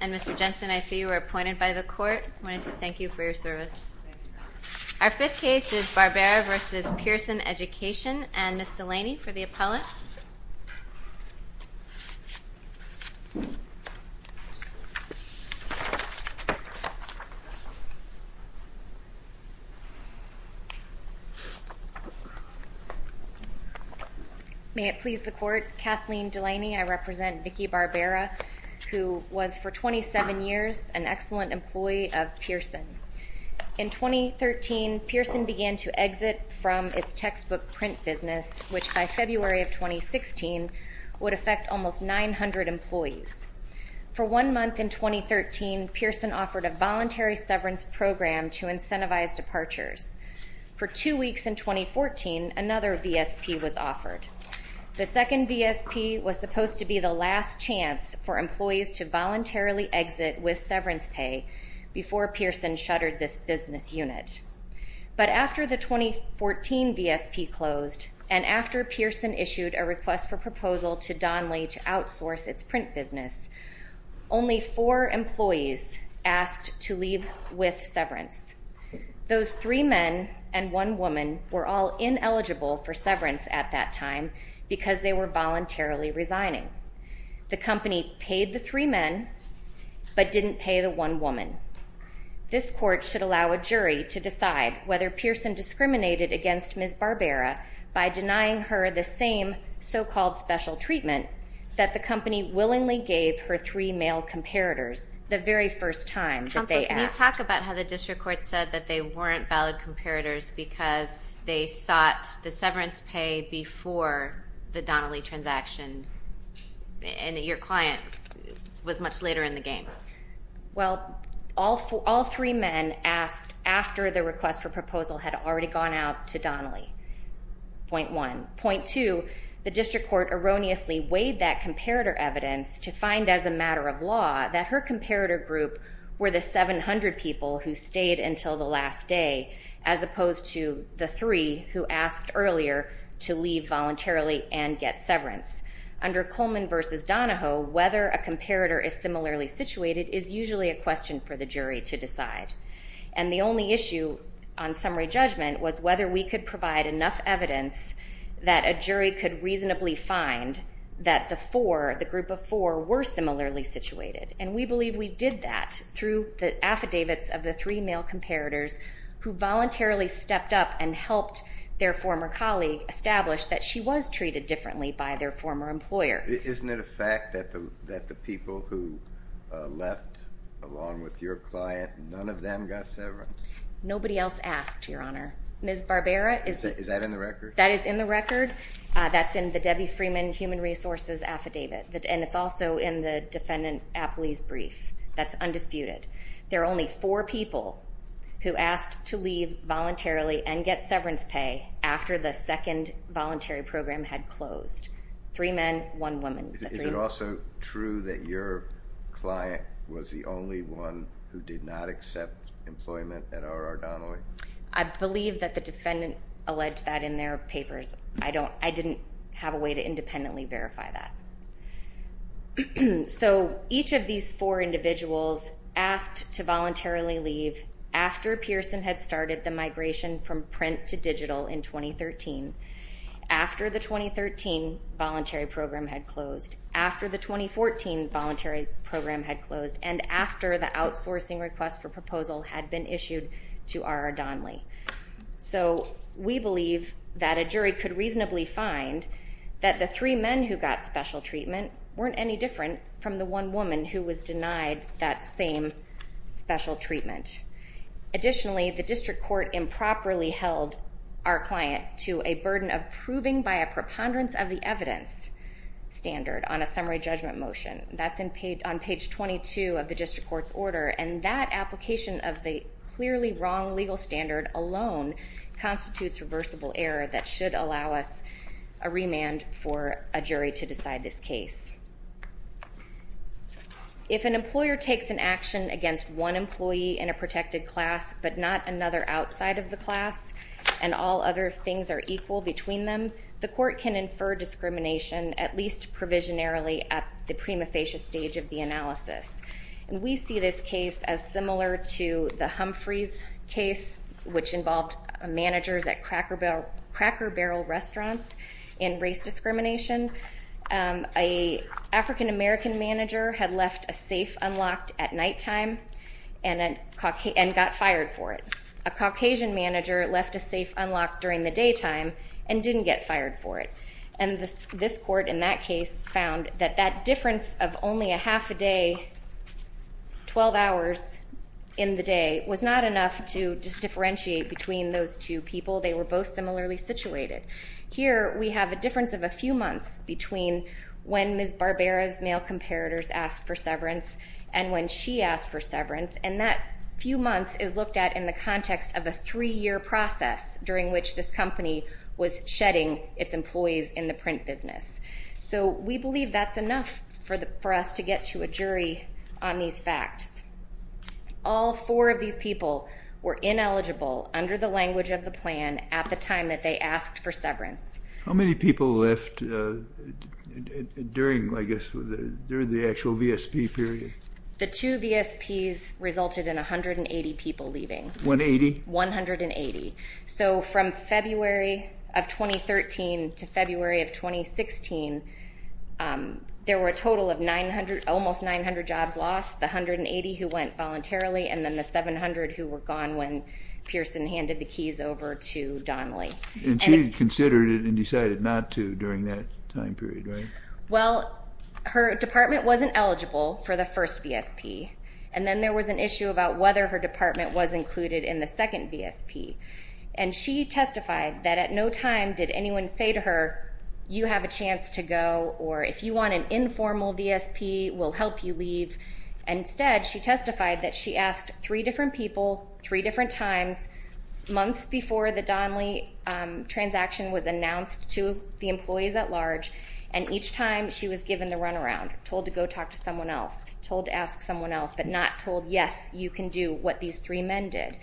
And Mr. Jensen, I see you were appointed by the court. I wanted to thank you for your service. Our fifth case is Barbera v. Pearson Education. And Ms. Delaney for the appellant. May it please the court, Kathleen Delaney. I represent Vicki Barbera, who was for 27 years an excellent employee of Pearson. In 2013, Pearson began to exit from its textbook print business, which by February of 2016 would affect almost 900 employees. For one month in 2013, Pearson offered a voluntary severance program to incentivize departures. For two weeks in 2014, another VSP was offered. The second VSP was supposed to be the last chance for employees to voluntarily exit with severance pay before Pearson shuttered this business unit. But after the 2014 VSP closed, and after Pearson issued a request for proposal to Donley to outsource its print business, only four employees asked to leave with severance. Those three men and one woman were all ineligible for severance at that time because they were voluntarily resigning. The company paid the three men, but didn't pay the one woman. This court should allow a jury to decide whether Pearson discriminated against Ms. Barbera by denying her the same so-called special treatment that the company willingly gave her three male comparators the very first time that they asked. Counsel, can you talk about how the district court said that they weren't valid comparators because they sought the severance pay before the Donley transaction and that your client was much later in the game? Well, all three men asked after the request for proposal had already gone out to Donley, point one. Point two, the district court erroneously weighed that comparator evidence to find, as a matter of law, that her comparator group were the 700 people who asked earlier to leave voluntarily and get severance. Under Coleman versus Donahoe, whether a comparator is similarly situated is usually a question for the jury to decide. And the only issue on summary judgment was whether we could provide enough evidence that a jury could reasonably find that the four, the group of four, were similarly situated. And we believe we did that through the affidavits of the three male comparators who voluntarily stepped up and helped their former colleague establish that she was treated differently by their former employer. Isn't it a fact that the people who left along with your client, none of them got severance? Nobody else asked, Your Honor. Ms. Barbera is that in the record? That is in the record. That's in the Debbie Freeman human resources affidavit. And it's also in the defendant appellee's brief. That's undisputed. There are only four people who asked to leave voluntarily and get severance pay after the second voluntary program had closed. Three men, one woman. Is it also true that your client was the only one who did not accept employment at RR Donahoe? I believe that the defendant alleged that in their papers. I don't, I didn't have a way to independently verify that. So each of these four individuals asked to voluntarily leave after Pearson had started the migration from print to digital in 2013, after the 2013 voluntary program had closed, after the 2014 voluntary program had closed, and after the outsourcing request for proposal had been issued to RR Donley. So we believe that a jury could reasonably find that the three men who got special treatment weren't any different from the one woman who was denied that same special treatment. Additionally, the district court improperly held our client to a burden of proving by a preponderance of the evidence standard on a summary judgment motion. That's on page 22 of the district court's order. And that application of the clearly wrong legal standard alone constitutes reversible error that should allow us a remand for a jury to decide this case. If an employer takes an action against one employee in a protected class, but not another outside of the class, and all other things are equal between them, the court can infer discrimination, at least provisionarily, at the prima facie stage of the analysis. And we see this case as similar to the Humphreys case, which involved managers at Cracker Barrel restaurants in race discrimination. A African-American manager had left a safe unlocked at nighttime and got fired for it. A Caucasian manager left a safe unlocked during the daytime and didn't get fired for it. And this court in that case found that that difference of only a half a day, 12 hours in the day was not enough to differentiate between those two people. They were both similarly situated. Here, we have a difference of a few months between when Ms. Barbera's male comparators asked for severance and when she asked for severance. And that few months is looked at in the context of a three-year process during which this company was shedding its employees in the print business. So we believe that's enough for us to get to a jury on these facts. All four of these people were ineligible under the language of the plan at the time that they asked for severance. How many people left during the actual VSP period? The two VSPs resulted in 180 people leaving. 180? 180. So from February of 2013 to February of 2016, there were a total of almost 900 jobs lost, the 180 who went voluntarily, and then the 700 who were gone when Pearson handed the keys over to Donnelly. And she considered it and decided not to during that time period, right? Well, her department wasn't eligible for the first VSP. And then there was an issue about whether her department was included in the second VSP. And she testified that at no time did anyone say to her, you have a chance to go, or if you want an informal VSP, we'll help you leave. Instead, she testified that she asked three different people three different times months before the Donnelly transaction was announced to the employees at large. And each time, she was given the runaround, told to go talk to someone else, told to ask someone else, but not told, yes, you can do what these three men did.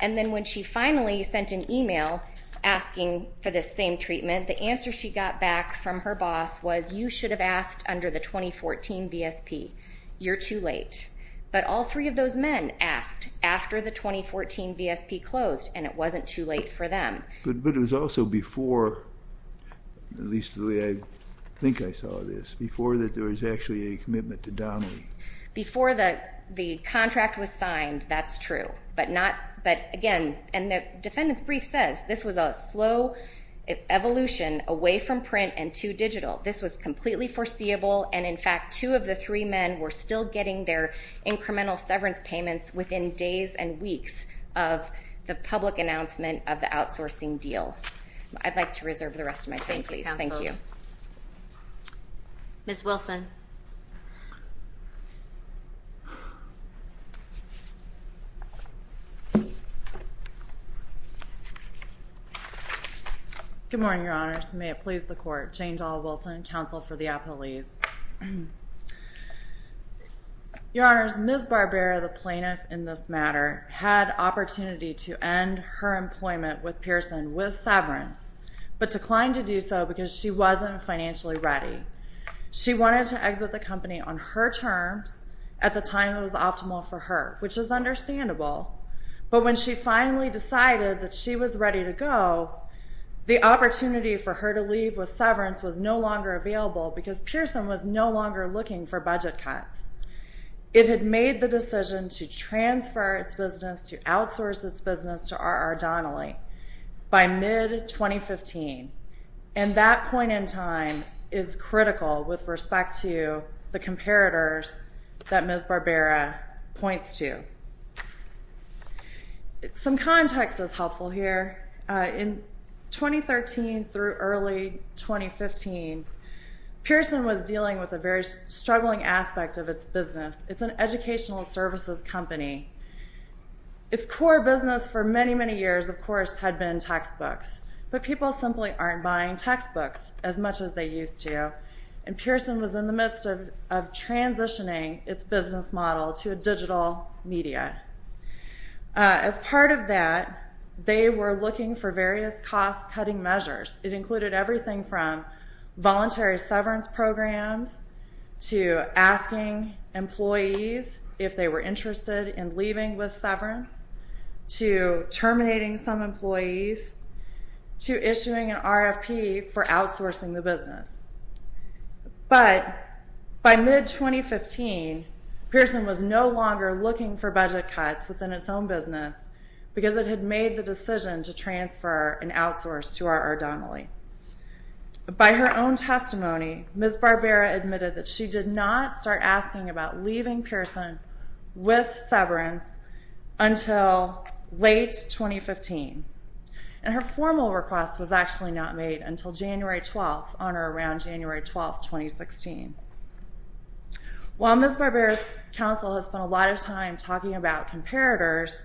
And then when she finally sent an email asking for this same treatment, the answer she got back from her boss was, you should have asked under the 2014 VSP. You're too late. But all three of those men asked after the 2014 VSP closed, and it wasn't too late for them. But it was also before, at least the way I think I saw this, before that there was actually a commitment to Donnelly. Before the contract was signed, that's true. But again, and the defendant's brief says this was a slow evolution away from print and to digital. This was completely foreseeable. And in fact, two of the three men were still getting their incremental severance payments within days and weeks of the public announcement of the outsourcing deal. I'd like to reserve the rest of my time, please. Thank you. Thank you, counsel. Ms. Wilson. Good morning, Your Honors. May it please the court. Jane Doll Wilson, counsel for the appellees. Your Honors, Ms. Barbera, the plaintiff in this matter, had opportunity to end her employment with Pearson with severance, but declined to do so because she wasn't financially ready. She wanted to exit the company on her terms at the time it was optimal for her, which is understandable. But when she finally decided that she was ready to go, the opportunity for her to leave with severance was no longer available because Pearson was no longer looking for budget cuts. It had made the decision to transfer its business, to outsource its business to RR Donnelly by mid-2015. And that point in time is critical with respect to the comparators that Ms. Barbera points to. Some context is helpful here. In 2013 through early 2015, Pearson was dealing with a very struggling aspect of its business. It's an educational services company. Its core business for many, many years, of course, had been textbooks. But people simply aren't buying textbooks as much as they used to. And Pearson was in the midst of transitioning its business model to a digital media. As part of that, they were looking for various cost cutting measures. It included everything from voluntary severance programs to asking employees if they were interested in leaving with severance, to terminating some employees, to issuing an RFP for outsourcing the business. But by mid-2015, Pearson was no longer looking for budget cuts within its own business because it had made the decision to transfer and outsource to RR Donnelly. By her own testimony, Ms. Barbera admitted that she did not start asking about leaving Pearson with severance until late 2015. And her formal request was actually not made until January 12, on or around January 12, 2016. While Ms. Barbera's counsel has spent a lot of time talking about comparators,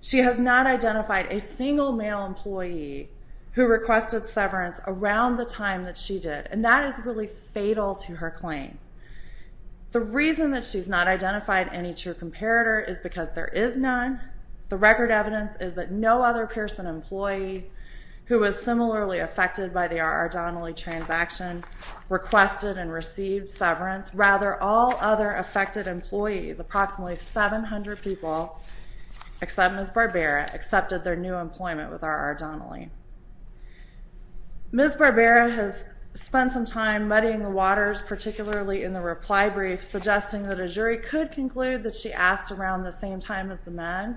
she has not identified a single male employee who requested severance around the time that she did. And that is really fatal to her claim. The reason that she's not identified any true comparator is because there is none. The record evidence is that no other Pearson employee who was similarly affected by the RR Donnelly transaction requested and received severance. Rather, all other affected employees, approximately 700 people, except Ms. Barbera, accepted their new employment with RR Donnelly. Ms. Barbera has spent some time muddying the waters, particularly in the reply brief, suggesting that a jury could conclude that she asked around the same time as the men.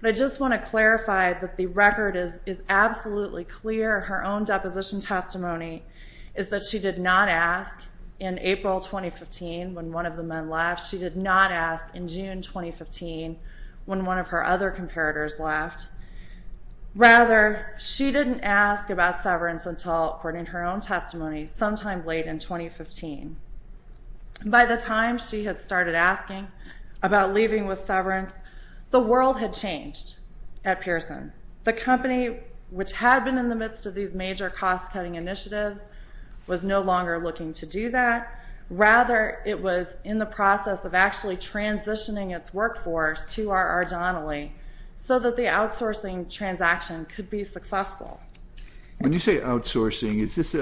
But I just want to clarify that the record is absolutely clear. Her own deposition testimony is that she did not ask in April 2015, when one of the men left. She did not ask in June 2015, when one of her other comparators left. Rather, she didn't ask about severance until, according to her own testimony, sometime late in 2015. By the time she had started asking about leaving with severance, the world had changed at Pearson. The company, which had been in the midst of these major cost-cutting initiatives, was no longer looking to do that. Rather, it was in the process of actually transitioning its workforce to RR Donnelly so that the outsourcing transaction could be successful. When you say outsourcing, is this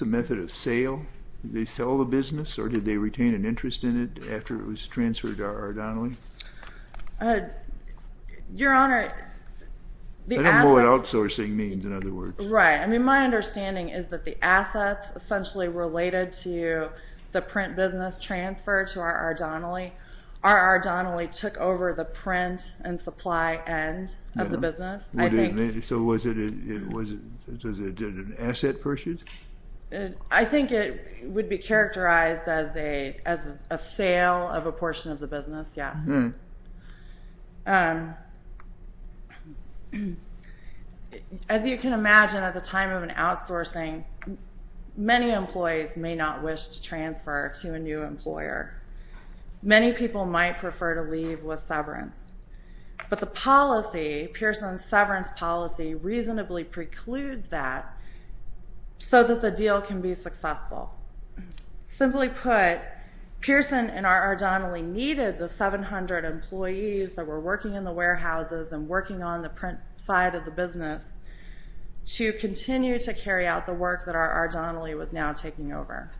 a method of sale? Did they sell the business, or did they retain an interest in it after it was transferred to RR Donnelly? Your Honor, the assets- I don't know what outsourcing means, in other words. Right. My understanding is that the assets essentially related to the print business transfer to RR Donnelly. RR Donnelly took over the print and supply end of the business. So was it an asset purchase? I think it would be characterized as a sale of a portion of the business, yes. As you can imagine, at the time of an outsourcing, many employees may not wish to transfer to a new employer. Many people might prefer to leave with severance. But the policy, Pearson's severance policy, reasonably precludes that so that the deal can be successful. Simply put, Pearson and RR Donnelly needed the 700 employees that were working in the warehouses and working on the print side of the business to continue to carry out the work that RR Donnelly was now taking over.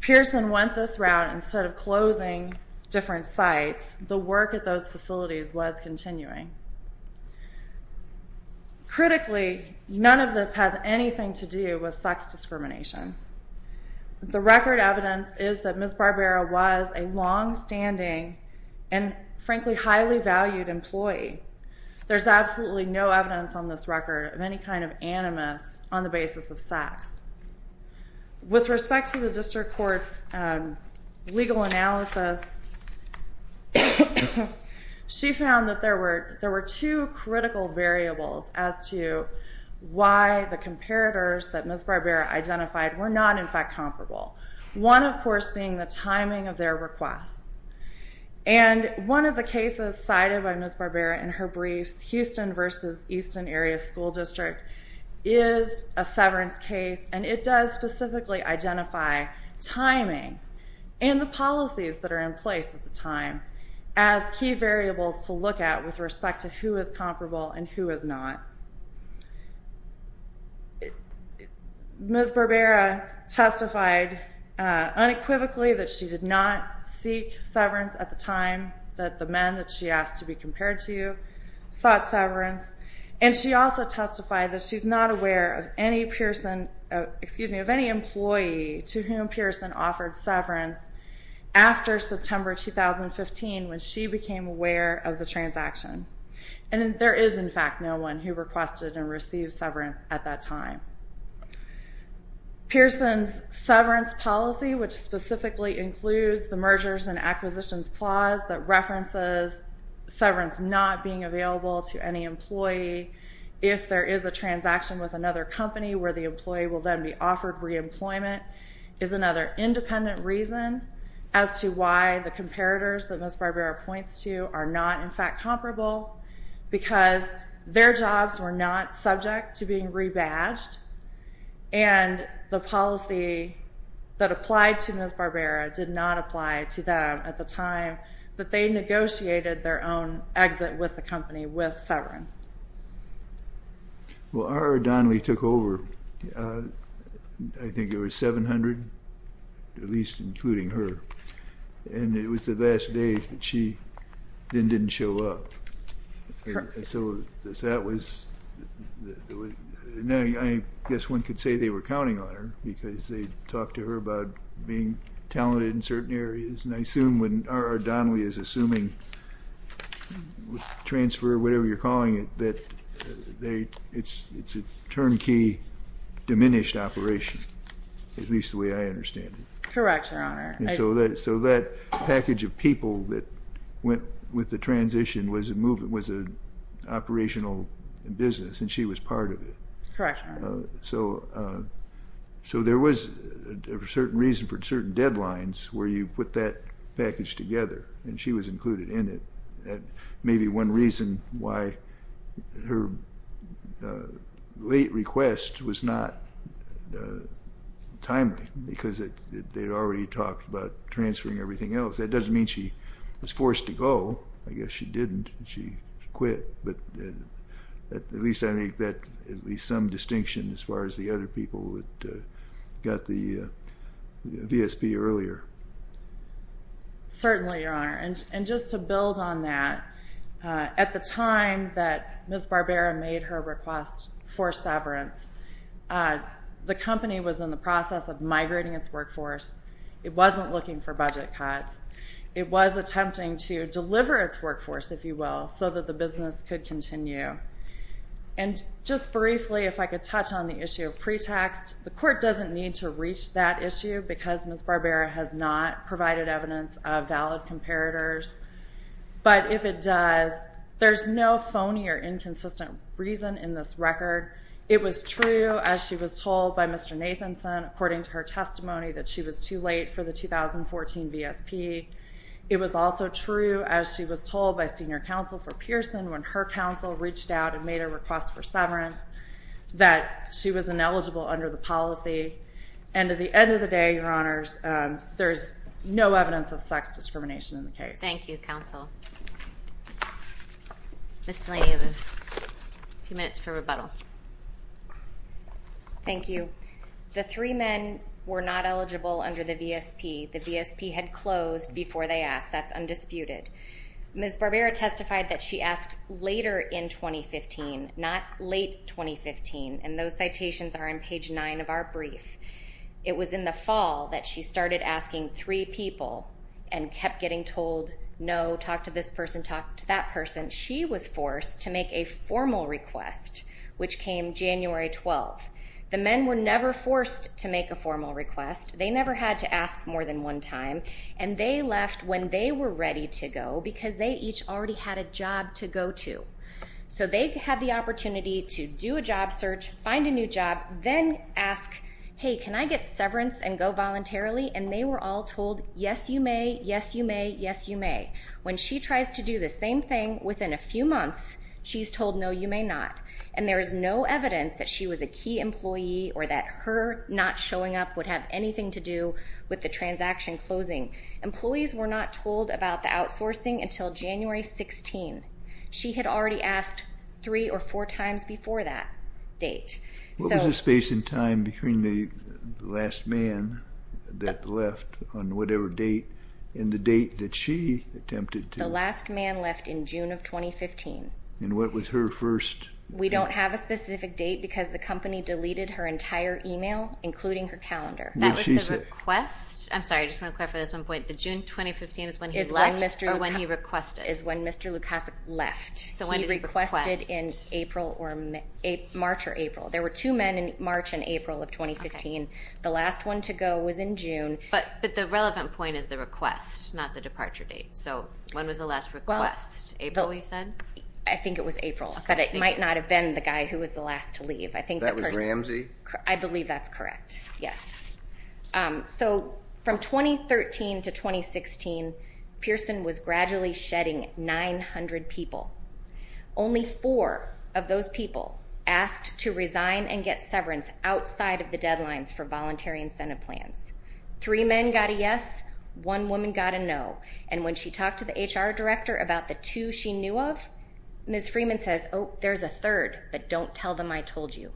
Pearson went this route. Instead of closing different sites, the work at those facilities was continuing. Critically, none of this has anything to do with sex discrimination. The record evidence is that Ms. Barbera was a longstanding and, frankly, highly valued employee. There's absolutely no evidence on this record of any kind of animus on the basis of sex. With respect to the district court's legal analysis, she found that there were two critical variables as to why the comparators that Ms. Barbera identified were not, in fact, comparable. One, of course, being the timing of their requests. And one of the cases cited by Ms. Barbera in her briefs, Houston versus Easton Area School District, is a severance case. And it does specifically identify timing and the policies that are in place at the time as key variables to look at with respect to who is comparable and who is not. Ms. Barbera testified unequivocally that she did not seek severance at the time that the men that she asked to be compared to sought severance. And she also testified that she's not aware of any employee to whom Pearson offered severance after September 2015, when she became aware of the transaction. And there is, in fact, no one who requested and received severance at that time. Pearson's severance policy, which specifically includes the mergers and acquisitions clause that references severance not being available to any employee if there is a transaction with another company where the employee will then be offered re-employment, is another independent reason as to why the comparators that Ms. Barbera points to are not, in fact, comparable, because their jobs were not subject to being rebadged. And the policy that applied to Ms. Barbera did not apply to them at the time that they negotiated their own exit with the company with severance. Well, R.R. Donnelly took over. I think it was 700, at least including her. And it was the last day that she then didn't show up. So that was, I guess one could say they were counting on her, because they talked to her about being talented in certain areas. R.R. Donnelly is assuming transfer, whatever you're calling it, that it's a turnkey diminished operation, at least the way I understand it. Correct, Your Honor. So that package of people that went with the transition was an operational business, and she was part of it. Correct, Your Honor. So there was a certain reason for certain deadlines where you put that package together, and she was included in it. Maybe one reason why her late request was not timely, because they'd already talked about transferring everything else. That doesn't mean she was forced to go. I guess she didn't. She quit. But at least I make that at least some distinction as far as the other people that got the VSP earlier. Certainly, Your Honor. And just to build on that, at the time that Ms. Barbera made her request for severance, the company was in the process of migrating its workforce. It wasn't looking for budget cuts. It was attempting to deliver its workforce, if you will, so that the business could continue. And just briefly, if I could touch on the issue of pretext, the court doesn't need to reach that issue, because Ms. Barbera has not provided evidence of valid comparators. But if it does, there's no phony or inconsistent reason in this record. It was true, as she was told by Mr. Nathanson, according to her testimony, that she was too late for the 2014 VSP. It was also true, as she was told by senior counsel for Pearson, when her counsel reached out and made a request for severance, that she was ineligible under the policy. And at the end of the day, Your Honors, there's no evidence of sex discrimination in the case. Thank you, counsel. Ms. Delaney, you have a few minutes for rebuttal. Thank you. The three men were not eligible under the VSP. The VSP had closed before they asked. That's undisputed. Ms. Barbera testified that she asked later in 2015, not late 2015. And those citations are on page 9 of our brief. It was in the fall that she started asking three people and kept getting told, no, talk to this person, talk to that person. She was forced to make a formal request, which came January 12. The men were never forced to make a formal request. They never had to ask more than one time. And they left when they were ready to go, because they each already had a job to go to. So they had the opportunity to do a job search, find a new job, then ask, hey, can I get severance and go voluntarily? And they were all told, yes, you may. Yes, you may. Yes, you may. When she tries to do the same thing within a few months, she's told, no, you may not. And there is no evidence that she was a key employee or that her not showing up would have anything to do with the transaction closing. Employees were not told about the outsourcing until January 16. She had already asked three or four times before that date. What was the space in time between the last man that left on whatever date and the date that she attempted to? The last man left in June of 2015. And what was her first date? We don't have a specific date, because the company deleted her entire email, including her calendar. What did she say? That was the request. I'm sorry, I just want to clarify this one point. The June 2015 is when he left or when he requested? Is when Mr. Lukasik left. So when did he request? He requested in April or March or April. There were two men in March and April of 2015. The last one to go was in June. But the relevant point is the request, not the departure date. So when was the last request? April, you said? I think it was April. But it might not have been the guy who was the last to leave. I think that part of it. That was Ramsey? I believe that's correct. Yes. So from 2013 to 2016, Pearson was gradually shedding 900 people. Only four of those people asked to resign and get severance outside of the deadlines for voluntary incentive plans. Three men got a yes. One woman got a no. And when she talked to the HR director about the two she knew of, Ms. Freeman says, oh, there's a third. But don't tell them I told you.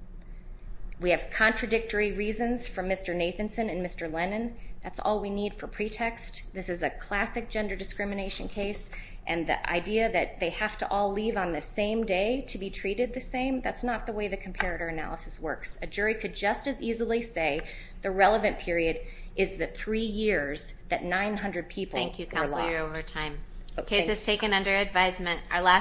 We have contradictory reasons for Mr. Nathanson and Mr. Lennon. That's all we need for pretext. This is a classic gender discrimination case. And the idea that they have to all leave on the same day to be treated the same, that's not the way the comparator analysis works. A jury could just as easily say the relevant period is the three years that 900 people were lost. Thank you, Counselor. You're over time. Case is taken under advisement. Our last.